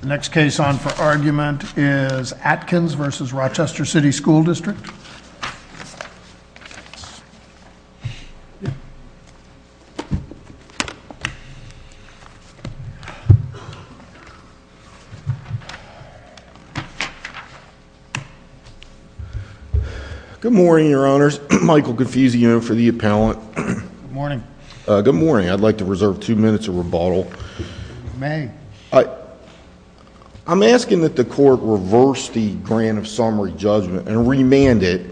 The next case on for argument is Atkins v. Rochester City School District. Good morning, your honors. Michael Confusio for the appellant. Good morning. Good morning. I'd like to reserve two minutes of rebuttal. You may. I'm asking that the court reverse the grant of summary judgment and remand it.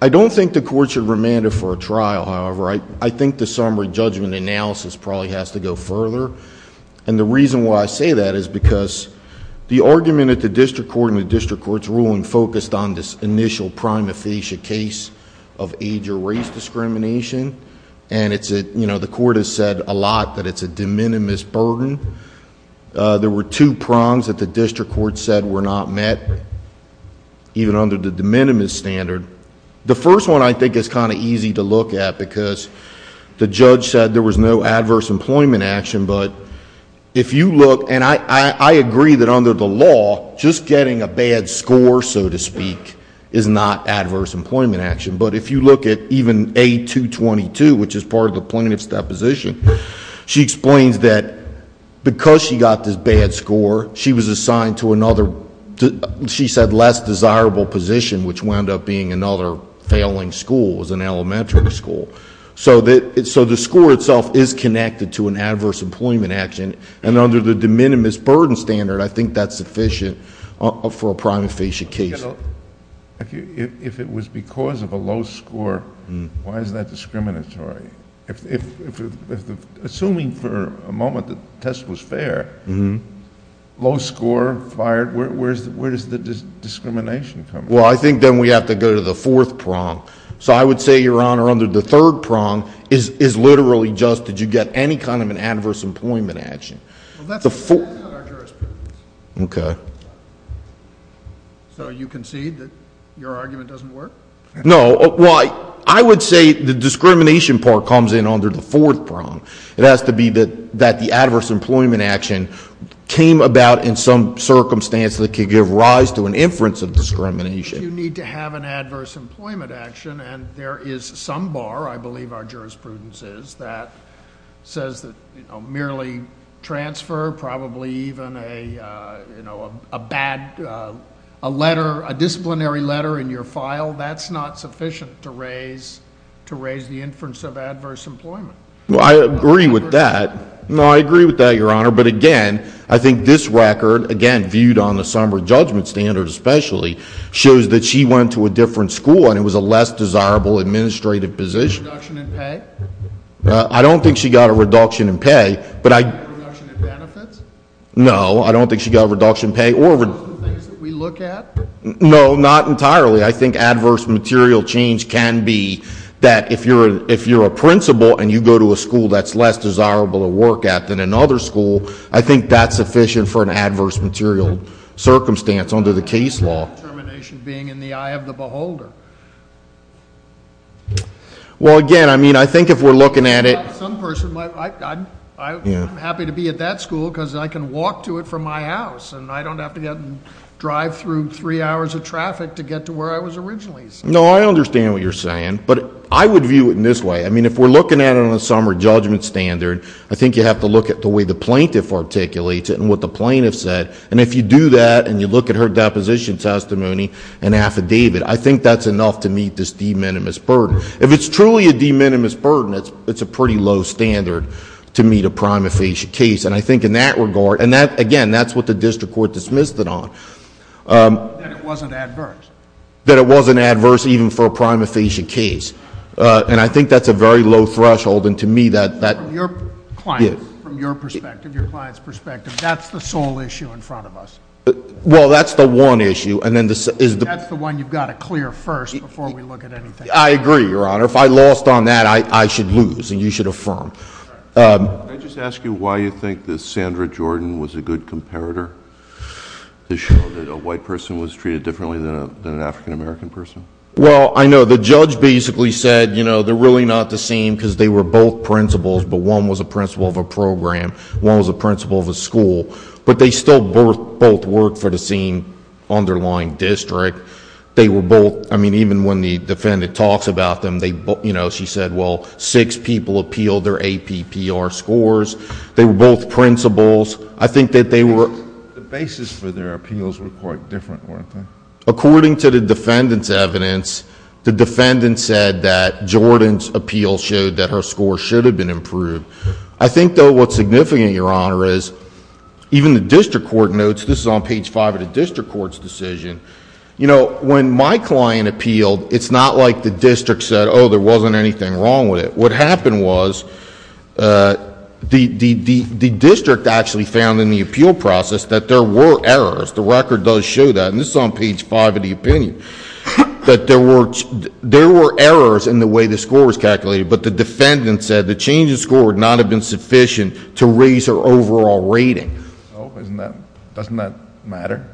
I don't think the court should remand it for a trial, however. I think the summary judgment analysis probably has to go further. And the reason why I say that is because the argument at the district court and the district court's ruling focused on this initial prima facie case of age or race discrimination. And it's a, you know, the court has said a lot that it's a de minimis burden. There were two prongs that the district court said were not met, even under the de minimis standard. The first one I think is kind of easy to look at because the judge said there was no adverse employment action. But if you look, and I agree that under the law, just getting a bad score, so to speak, is not adverse employment action. But if you look at even A222, which is part of the plaintiff's deposition, she explains that because she got this bad score, she was assigned to another, she said, less desirable position, which wound up being another failing school. It was an elementary school. So the score itself is connected to an adverse employment action. And under the de minimis burden standard, I think that's sufficient for a prima facie case. If it was because of a low score, why is that discriminatory? Assuming for a moment the test was fair, low score, fired, where does the discrimination come from? Well, I think then we have to go to the fourth prong. So I would say, Your Honor, under the third prong is literally just did you get any kind of an adverse employment action. Well, that's not our jurisprudence. Okay. So you concede that your argument doesn't work? No. Well, I would say the discrimination part comes in under the fourth prong. It has to be that the adverse employment action came about in some circumstance that could give rise to an inference of discrimination. You need to have an adverse employment action, and there is some bar, I believe our jurisprudence is, that says that merely transfer, probably even a bad letter, a disciplinary letter in your file, that's not sufficient to raise the inference of adverse employment. Well, I agree with that. No, I agree with that, Your Honor. But, again, I think this record, again, viewed on the somber judgment standard especially, shows that she went to a different school and it was a less desirable administrative position. Did she get a reduction in pay? I don't think she got a reduction in pay. Did she get a reduction in benefits? No, I don't think she got a reduction in pay. Are those the things that we look at? No, not entirely. I think adverse material change can be that if you're a principal and you go to a school that's less desirable to work at than another school, I think that's sufficient for an adverse material circumstance under the case law. Determination being in the eye of the beholder. Well, again, I mean, I think if we're looking at it. I'm happy to be at that school because I can walk to it from my house and I don't have to drive through three hours of traffic to get to where I was originally. No, I understand what you're saying, but I would view it in this way. I mean, if we're looking at it on a somber judgment standard, I think you have to look at the way the plaintiff articulates it and what the plaintiff said. And if you do that and you look at her deposition testimony and affidavit, I think that's enough to meet this de minimis burden. If it's truly a de minimis burden, it's a pretty low standard to meet a prima facie case. And I think in that regard, and again, that's what the district court dismissed it on. That it wasn't adverse. That it wasn't adverse even for a prima facie case. And I think that's a very low threshold. From your client's perspective, that's the sole issue in front of us. Well, that's the one issue. That's the one you've got to clear first before we look at anything else. I agree, Your Honor. If I lost on that, I should lose and you should affirm. Can I just ask you why you think that Sandra Jordan was a good comparator to show that a white person was treated differently than an African-American person? Well, I know the judge basically said, you know, they're really not the same because they were both principals. But one was a principal of a program. One was a principal of a school. But they still both worked for the same underlying district. They were both, I mean, even when the defendant talks about them, you know, she said, well, six people appealed their APPR scores. They were both principals. I think that they were... The basis for their appeals were quite different, weren't they? According to the defendant's evidence, the defendant said that Jordan's appeal showed that her score should have been improved. I think, though, what's significant, Your Honor, is even the district court notes, this is on page five of the district court's decision, you know, when my client appealed, it's not like the district said, oh, there wasn't anything wrong with it. What happened was the district actually found in the appeal process that there were errors. The record does show that. And this is on page five of the opinion. That there were errors in the way the score was calculated, but the defendant said the change in score would not have been sufficient to raise her overall rating. Doesn't that matter?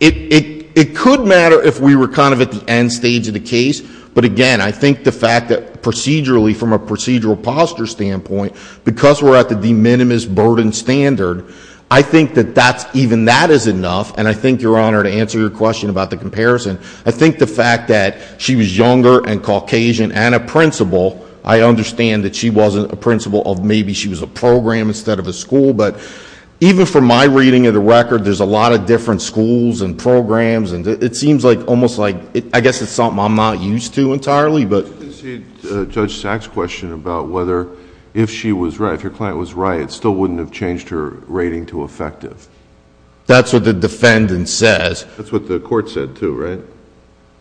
It could matter if we were kind of at the end stage of the case. But, again, I think the fact that procedurally, from a procedural posture standpoint, because we're at the de minimis burden standard, I think that even that is enough. And I think, Your Honor, to answer your question about the comparison, I think the fact that she was younger and Caucasian and a principal, I understand that she wasn't a principal of maybe she was a program instead of a school. But even from my reading of the record, there's a lot of different schools and programs. And it seems like almost like I guess it's something I'm not used to entirely. Did you concede Judge Sack's question about whether if she was right, if her client was right, it still wouldn't have changed her rating to effective? That's what the defendant says. That's what the court said, too, right?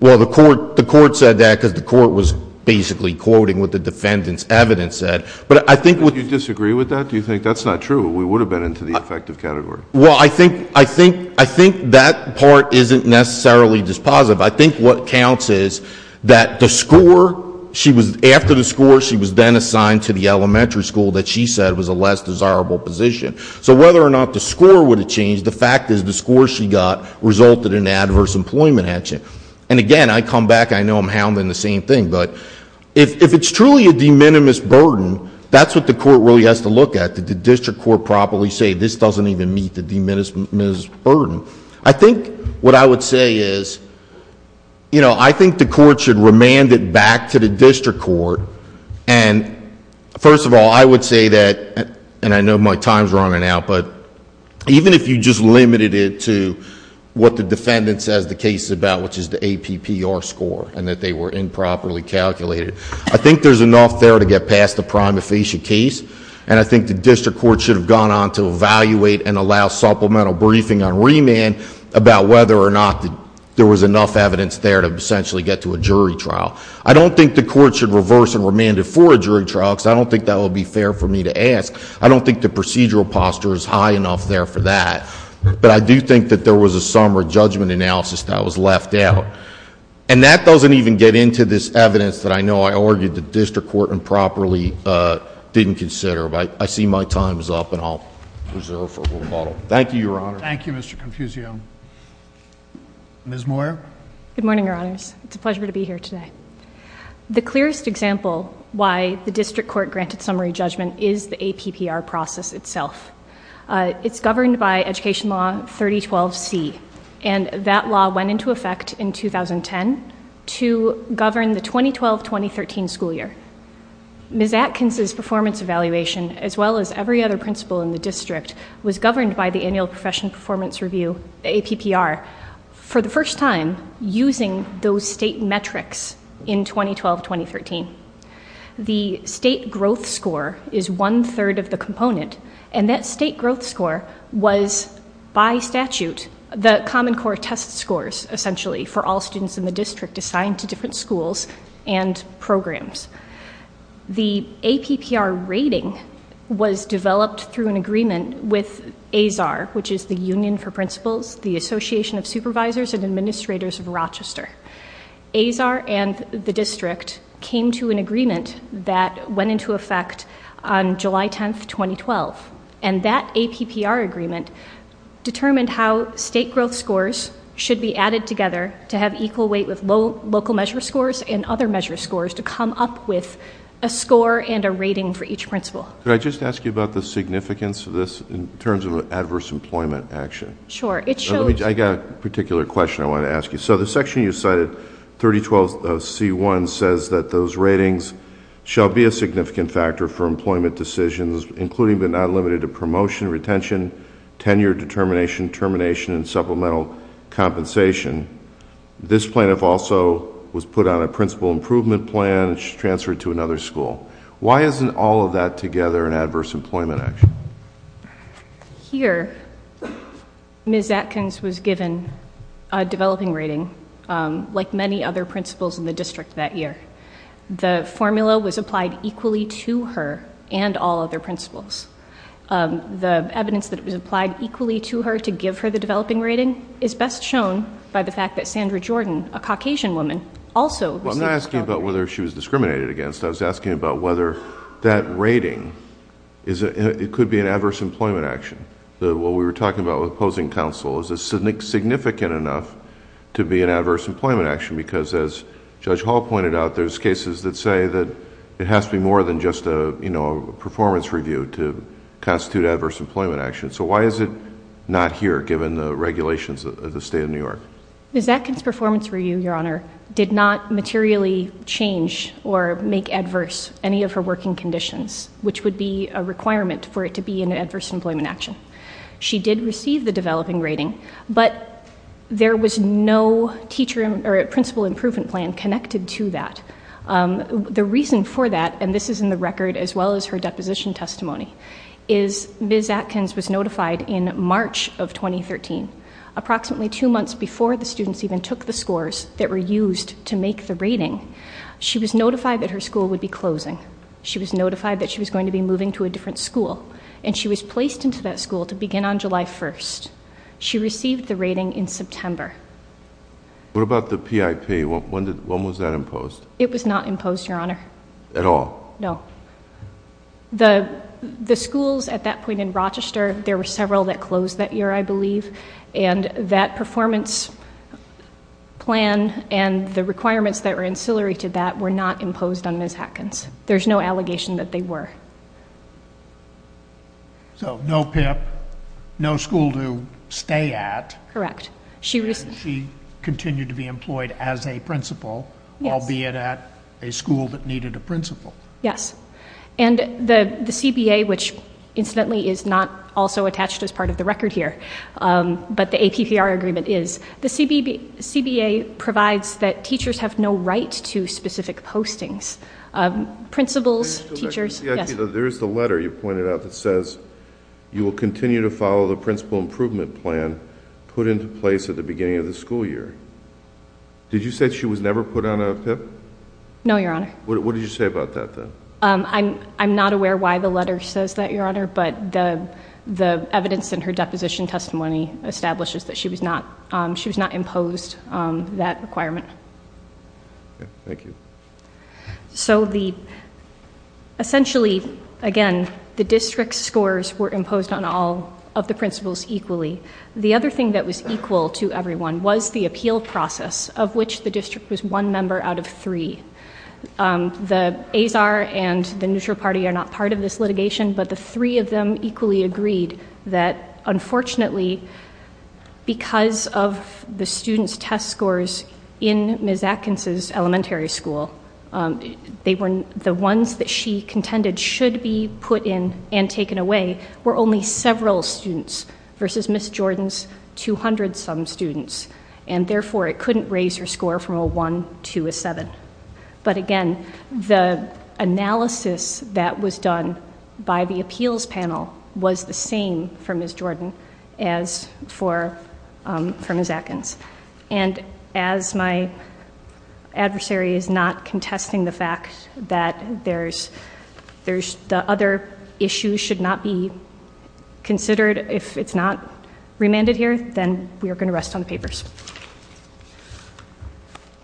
Well, the court said that because the court was basically quoting what the defendant's evidence said. But I think what you disagree with that? Do you think that's not true? We would have been into the effective category. Well, I think that part isn't necessarily dispositive. I think what counts is that the score, after the score, she was then assigned to the elementary school that she said was a less desirable position. So whether or not the score would have changed, the fact is the score she got resulted in adverse employment action. And again, I come back, I know I'm hounding the same thing. But if it's truly a de minimis burden, that's what the court really has to look at. Did the district court properly say this doesn't even meet the de minimis burden? I think what I would say is, you know, I think the court should remand it back to the district court. And first of all, I would say that, and I know my time's running out, but even if you just limited it to what the defendant says the case is about, which is the APPR score, and that they were improperly calculated, I think there's enough there to get past the prima facie case. And I think the district court should have gone on to evaluate and allow supplemental briefing on remand about whether or not there was enough evidence there to essentially get to a jury trial. I don't think the court should reverse and remand it for a jury trial, because I don't think that would be fair for me to ask. I don't think the procedural posture is high enough there for that. But I do think that there was a summary judgment analysis that was left out. And that doesn't even get into this evidence that I know I argued the district court improperly didn't consider. I see my time's up, and I'll reserve for a little while. Thank you, Your Honor. Thank you, Mr. Confusio. Ms. Moyer? Good morning, Your Honors. It's a pleasure to be here today. The clearest example why the district court granted summary judgment is the APPR process itself. It's governed by Education Law 3012C, and that law went into effect in 2010 to govern the 2012-2013 school year. Ms. Atkins' performance evaluation, as well as every other principal in the district, was governed by the Annual Profession Performance Review, APPR. For the first time, using those state metrics in 2012-2013, the state growth score is one-third of the component, and that state growth score was, by statute, the Common Core test scores, essentially, for all students in the district assigned to different schools and programs. The APPR rating was developed through an agreement with ASAR, which is the Union for Principals, the Association of Supervisors and Administrators of Rochester. ASAR and the district came to an agreement that went into effect on July 10, 2012, and that APPR agreement determined how state growth scores should be added together to have equal weight with local measure scores and other measure scores to come up with a score and a rating for each principal. Could I just ask you about the significance of this in terms of adverse employment action? Sure. I've got a particular question I want to ask you. The section you cited, 3012C1, says that those ratings shall be a significant factor for employment decisions, including but not limited to promotion, retention, tenure, determination, termination, and supplemental compensation. This plaintiff also was put on a principal improvement plan and transferred to another school. Why isn't all of that together an adverse employment action? Here, Ms. Atkins was given a developing rating like many other principals in the district that year. The formula was applied equally to her and all other principals. The evidence that it was applied equally to her to give her the developing rating is best shown by the fact that Sandra Jordan, a Caucasian woman, also... Well, I'm not asking about whether she was discriminated against. I was asking about whether that rating, it could be an adverse employment action. What we were talking about with opposing counsel, is it significant enough to be an adverse employment action? Because as Judge Hall pointed out, there's cases that say that it has to be more than just a performance review to constitute adverse employment action. So why is it not here, given the regulations of the State of New York? Ms. Atkins' performance review, Your Honor, did not materially change or make adverse any of her working conditions, which would be a requirement for it to be an adverse employment action. She did receive the developing rating, but there was no principal improvement plan connected to that. The reason for that, and this is in the record as well as her deposition testimony, is Ms. Atkins was notified in March of 2013, approximately two months before the students even took the scores that were used to make the rating, she was notified that her school would be closing. She was notified that she was going to be moving to a different school, and she was placed into that school to begin on July 1st. She received the rating in September. What about the PIP? When was that imposed? It was not imposed, Your Honor. At all? No. The schools at that point in Rochester, there were several that closed that year, I believe, and that performance plan and the requirements that were ancillary to that were not imposed on Ms. Atkins. There's no allegation that they were. So no PIP, no school to stay at. Correct. She continued to be employed as a principal, albeit at a school that needed a principal. Yes. And the CBA, which incidentally is not also attached as part of the record here, but the APPR agreement is, the CBA provides that teachers have no right to specific postings. Principals, teachers. There is the letter you pointed out that says, you will continue to follow the principal improvement plan put into place at the beginning of the school year. Did you say she was never put on a PIP? No, Your Honor. What did you say about that then? I'm not aware why the letter says that, Your Honor, but the evidence in her deposition testimony establishes that she was not imposed that requirement. Okay. Thank you. So essentially, again, the district scores were imposed on all of the principals equally. The other thing that was equal to everyone was the appeal process, of which the district was one member out of three. The Azar and the neutral party are not part of this litigation, but the three of them equally agreed that unfortunately, because of the students' test scores in Ms. Atkins' elementary school, the ones that she contended should be put in and taken away were only several students versus Ms. Jordan's 200-some students, and therefore it couldn't raise her score from a 1 to a 7. But again, the analysis that was done by the appeals panel was the same for Ms. Jordan as for Ms. Atkins. And as my adversary is not contesting the fact that the other issues should not be considered, if it's not remanded here, then we are going to rest on the papers.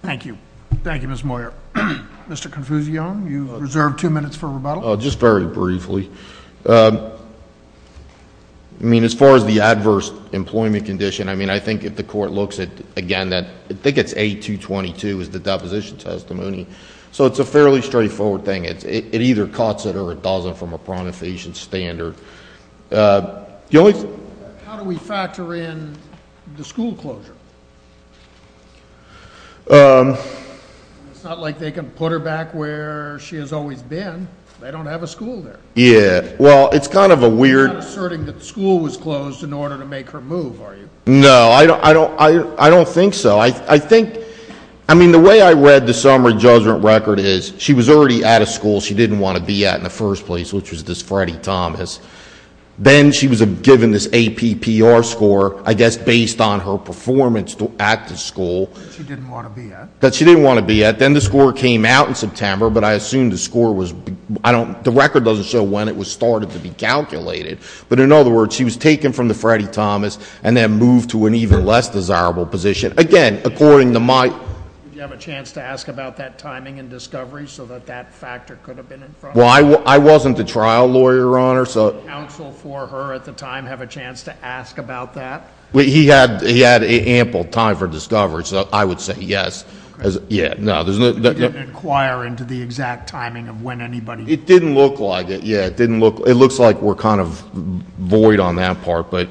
Thank you. Thank you, Ms. Moyer. Mr. Confuciano, you reserve two minutes for rebuttal. Just very briefly. I mean, as far as the adverse employment condition, I mean, I think if the court looks at, again, I think it's A-222 is the deposition testimony, so it's a fairly straightforward thing. It either cuts it or it doesn't from a pronotation standard. How do we factor in the school closure? It's not like they can put her back where she has always been. They don't have a school there. Yeah, well, it's kind of a weird – You're not asserting that the school was closed in order to make her move, are you? No, I don't think so. I think – I mean, the way I read the summary judgment record is she was already out of school. She didn't want to be at in the first place, which was this Freddie Thomas. Then she was given this APPR score, I guess based on her performance at the school. That she didn't want to be at. That she didn't want to be at. Then the score came out in September, but I assume the score was – I don't – the record doesn't show when it was started to be calculated. But in other words, she was taken from the Freddie Thomas and then moved to an even less desirable position. Again, according to my – Did you have a chance to ask about that timing and discovery so that that factor could have been in front of you? Well, I wasn't the trial lawyer, Your Honor, so – Did the counsel for her at the time have a chance to ask about that? He had ample time for discovery, so I would say yes. Okay. Yeah, no, there's no – You didn't inquire into the exact timing of when anybody – It didn't look like it. Yeah, it didn't look – it looks like we're kind of void on that part. But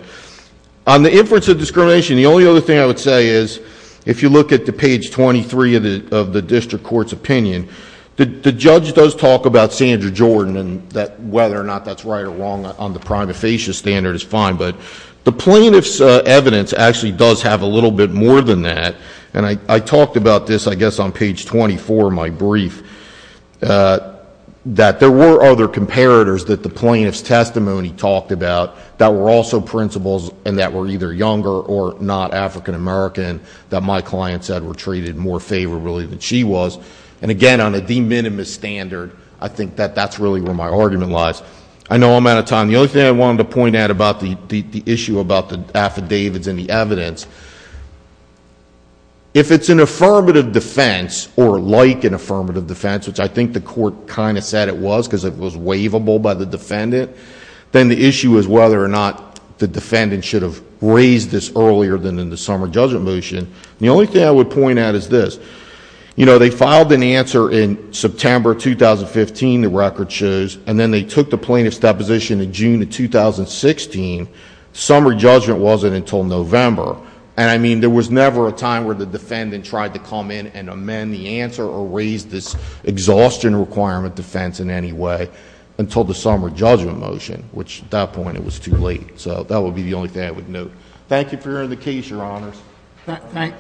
on the inference of discrimination, the only other thing I would say is, if you look at the page 23 of the district court's opinion, the judge does talk about Sandra Jordan and that – whether or not that's right or wrong on the prima facie standard is fine. But the plaintiff's evidence actually does have a little bit more than that. And I talked about this, I guess, on page 24 of my brief, that there were other comparators that the plaintiff's testimony talked about that were also principals and that were either younger or not African American that my client said were treated more favorably than she was. And again, on a de minimis standard, I think that that's really where my argument lies. I know I'm out of time. The only thing I wanted to point out about the issue about the affidavits and the evidence, if it's an affirmative defense or like an affirmative defense, which I think the court kind of said it was because it was waivable by the defendant, then the issue is whether or not the defendant should have raised this earlier than in the summer judgment motion. The only thing I would point out is this. They filed an answer in September 2015, the record shows, and then they took the plaintiff's deposition in June of 2016. Summer judgment wasn't until November. And I mean, there was never a time where the defendant tried to come in and amend the answer or raise this exhaustion requirement defense in any way until the summer judgment motion, which at that point it was too late. So that would be the only thing I would note. Thank you for hearing the case, Your Honors. Thank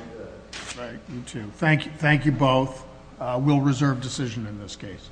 you. Thank you both. We'll reserve decision in this case.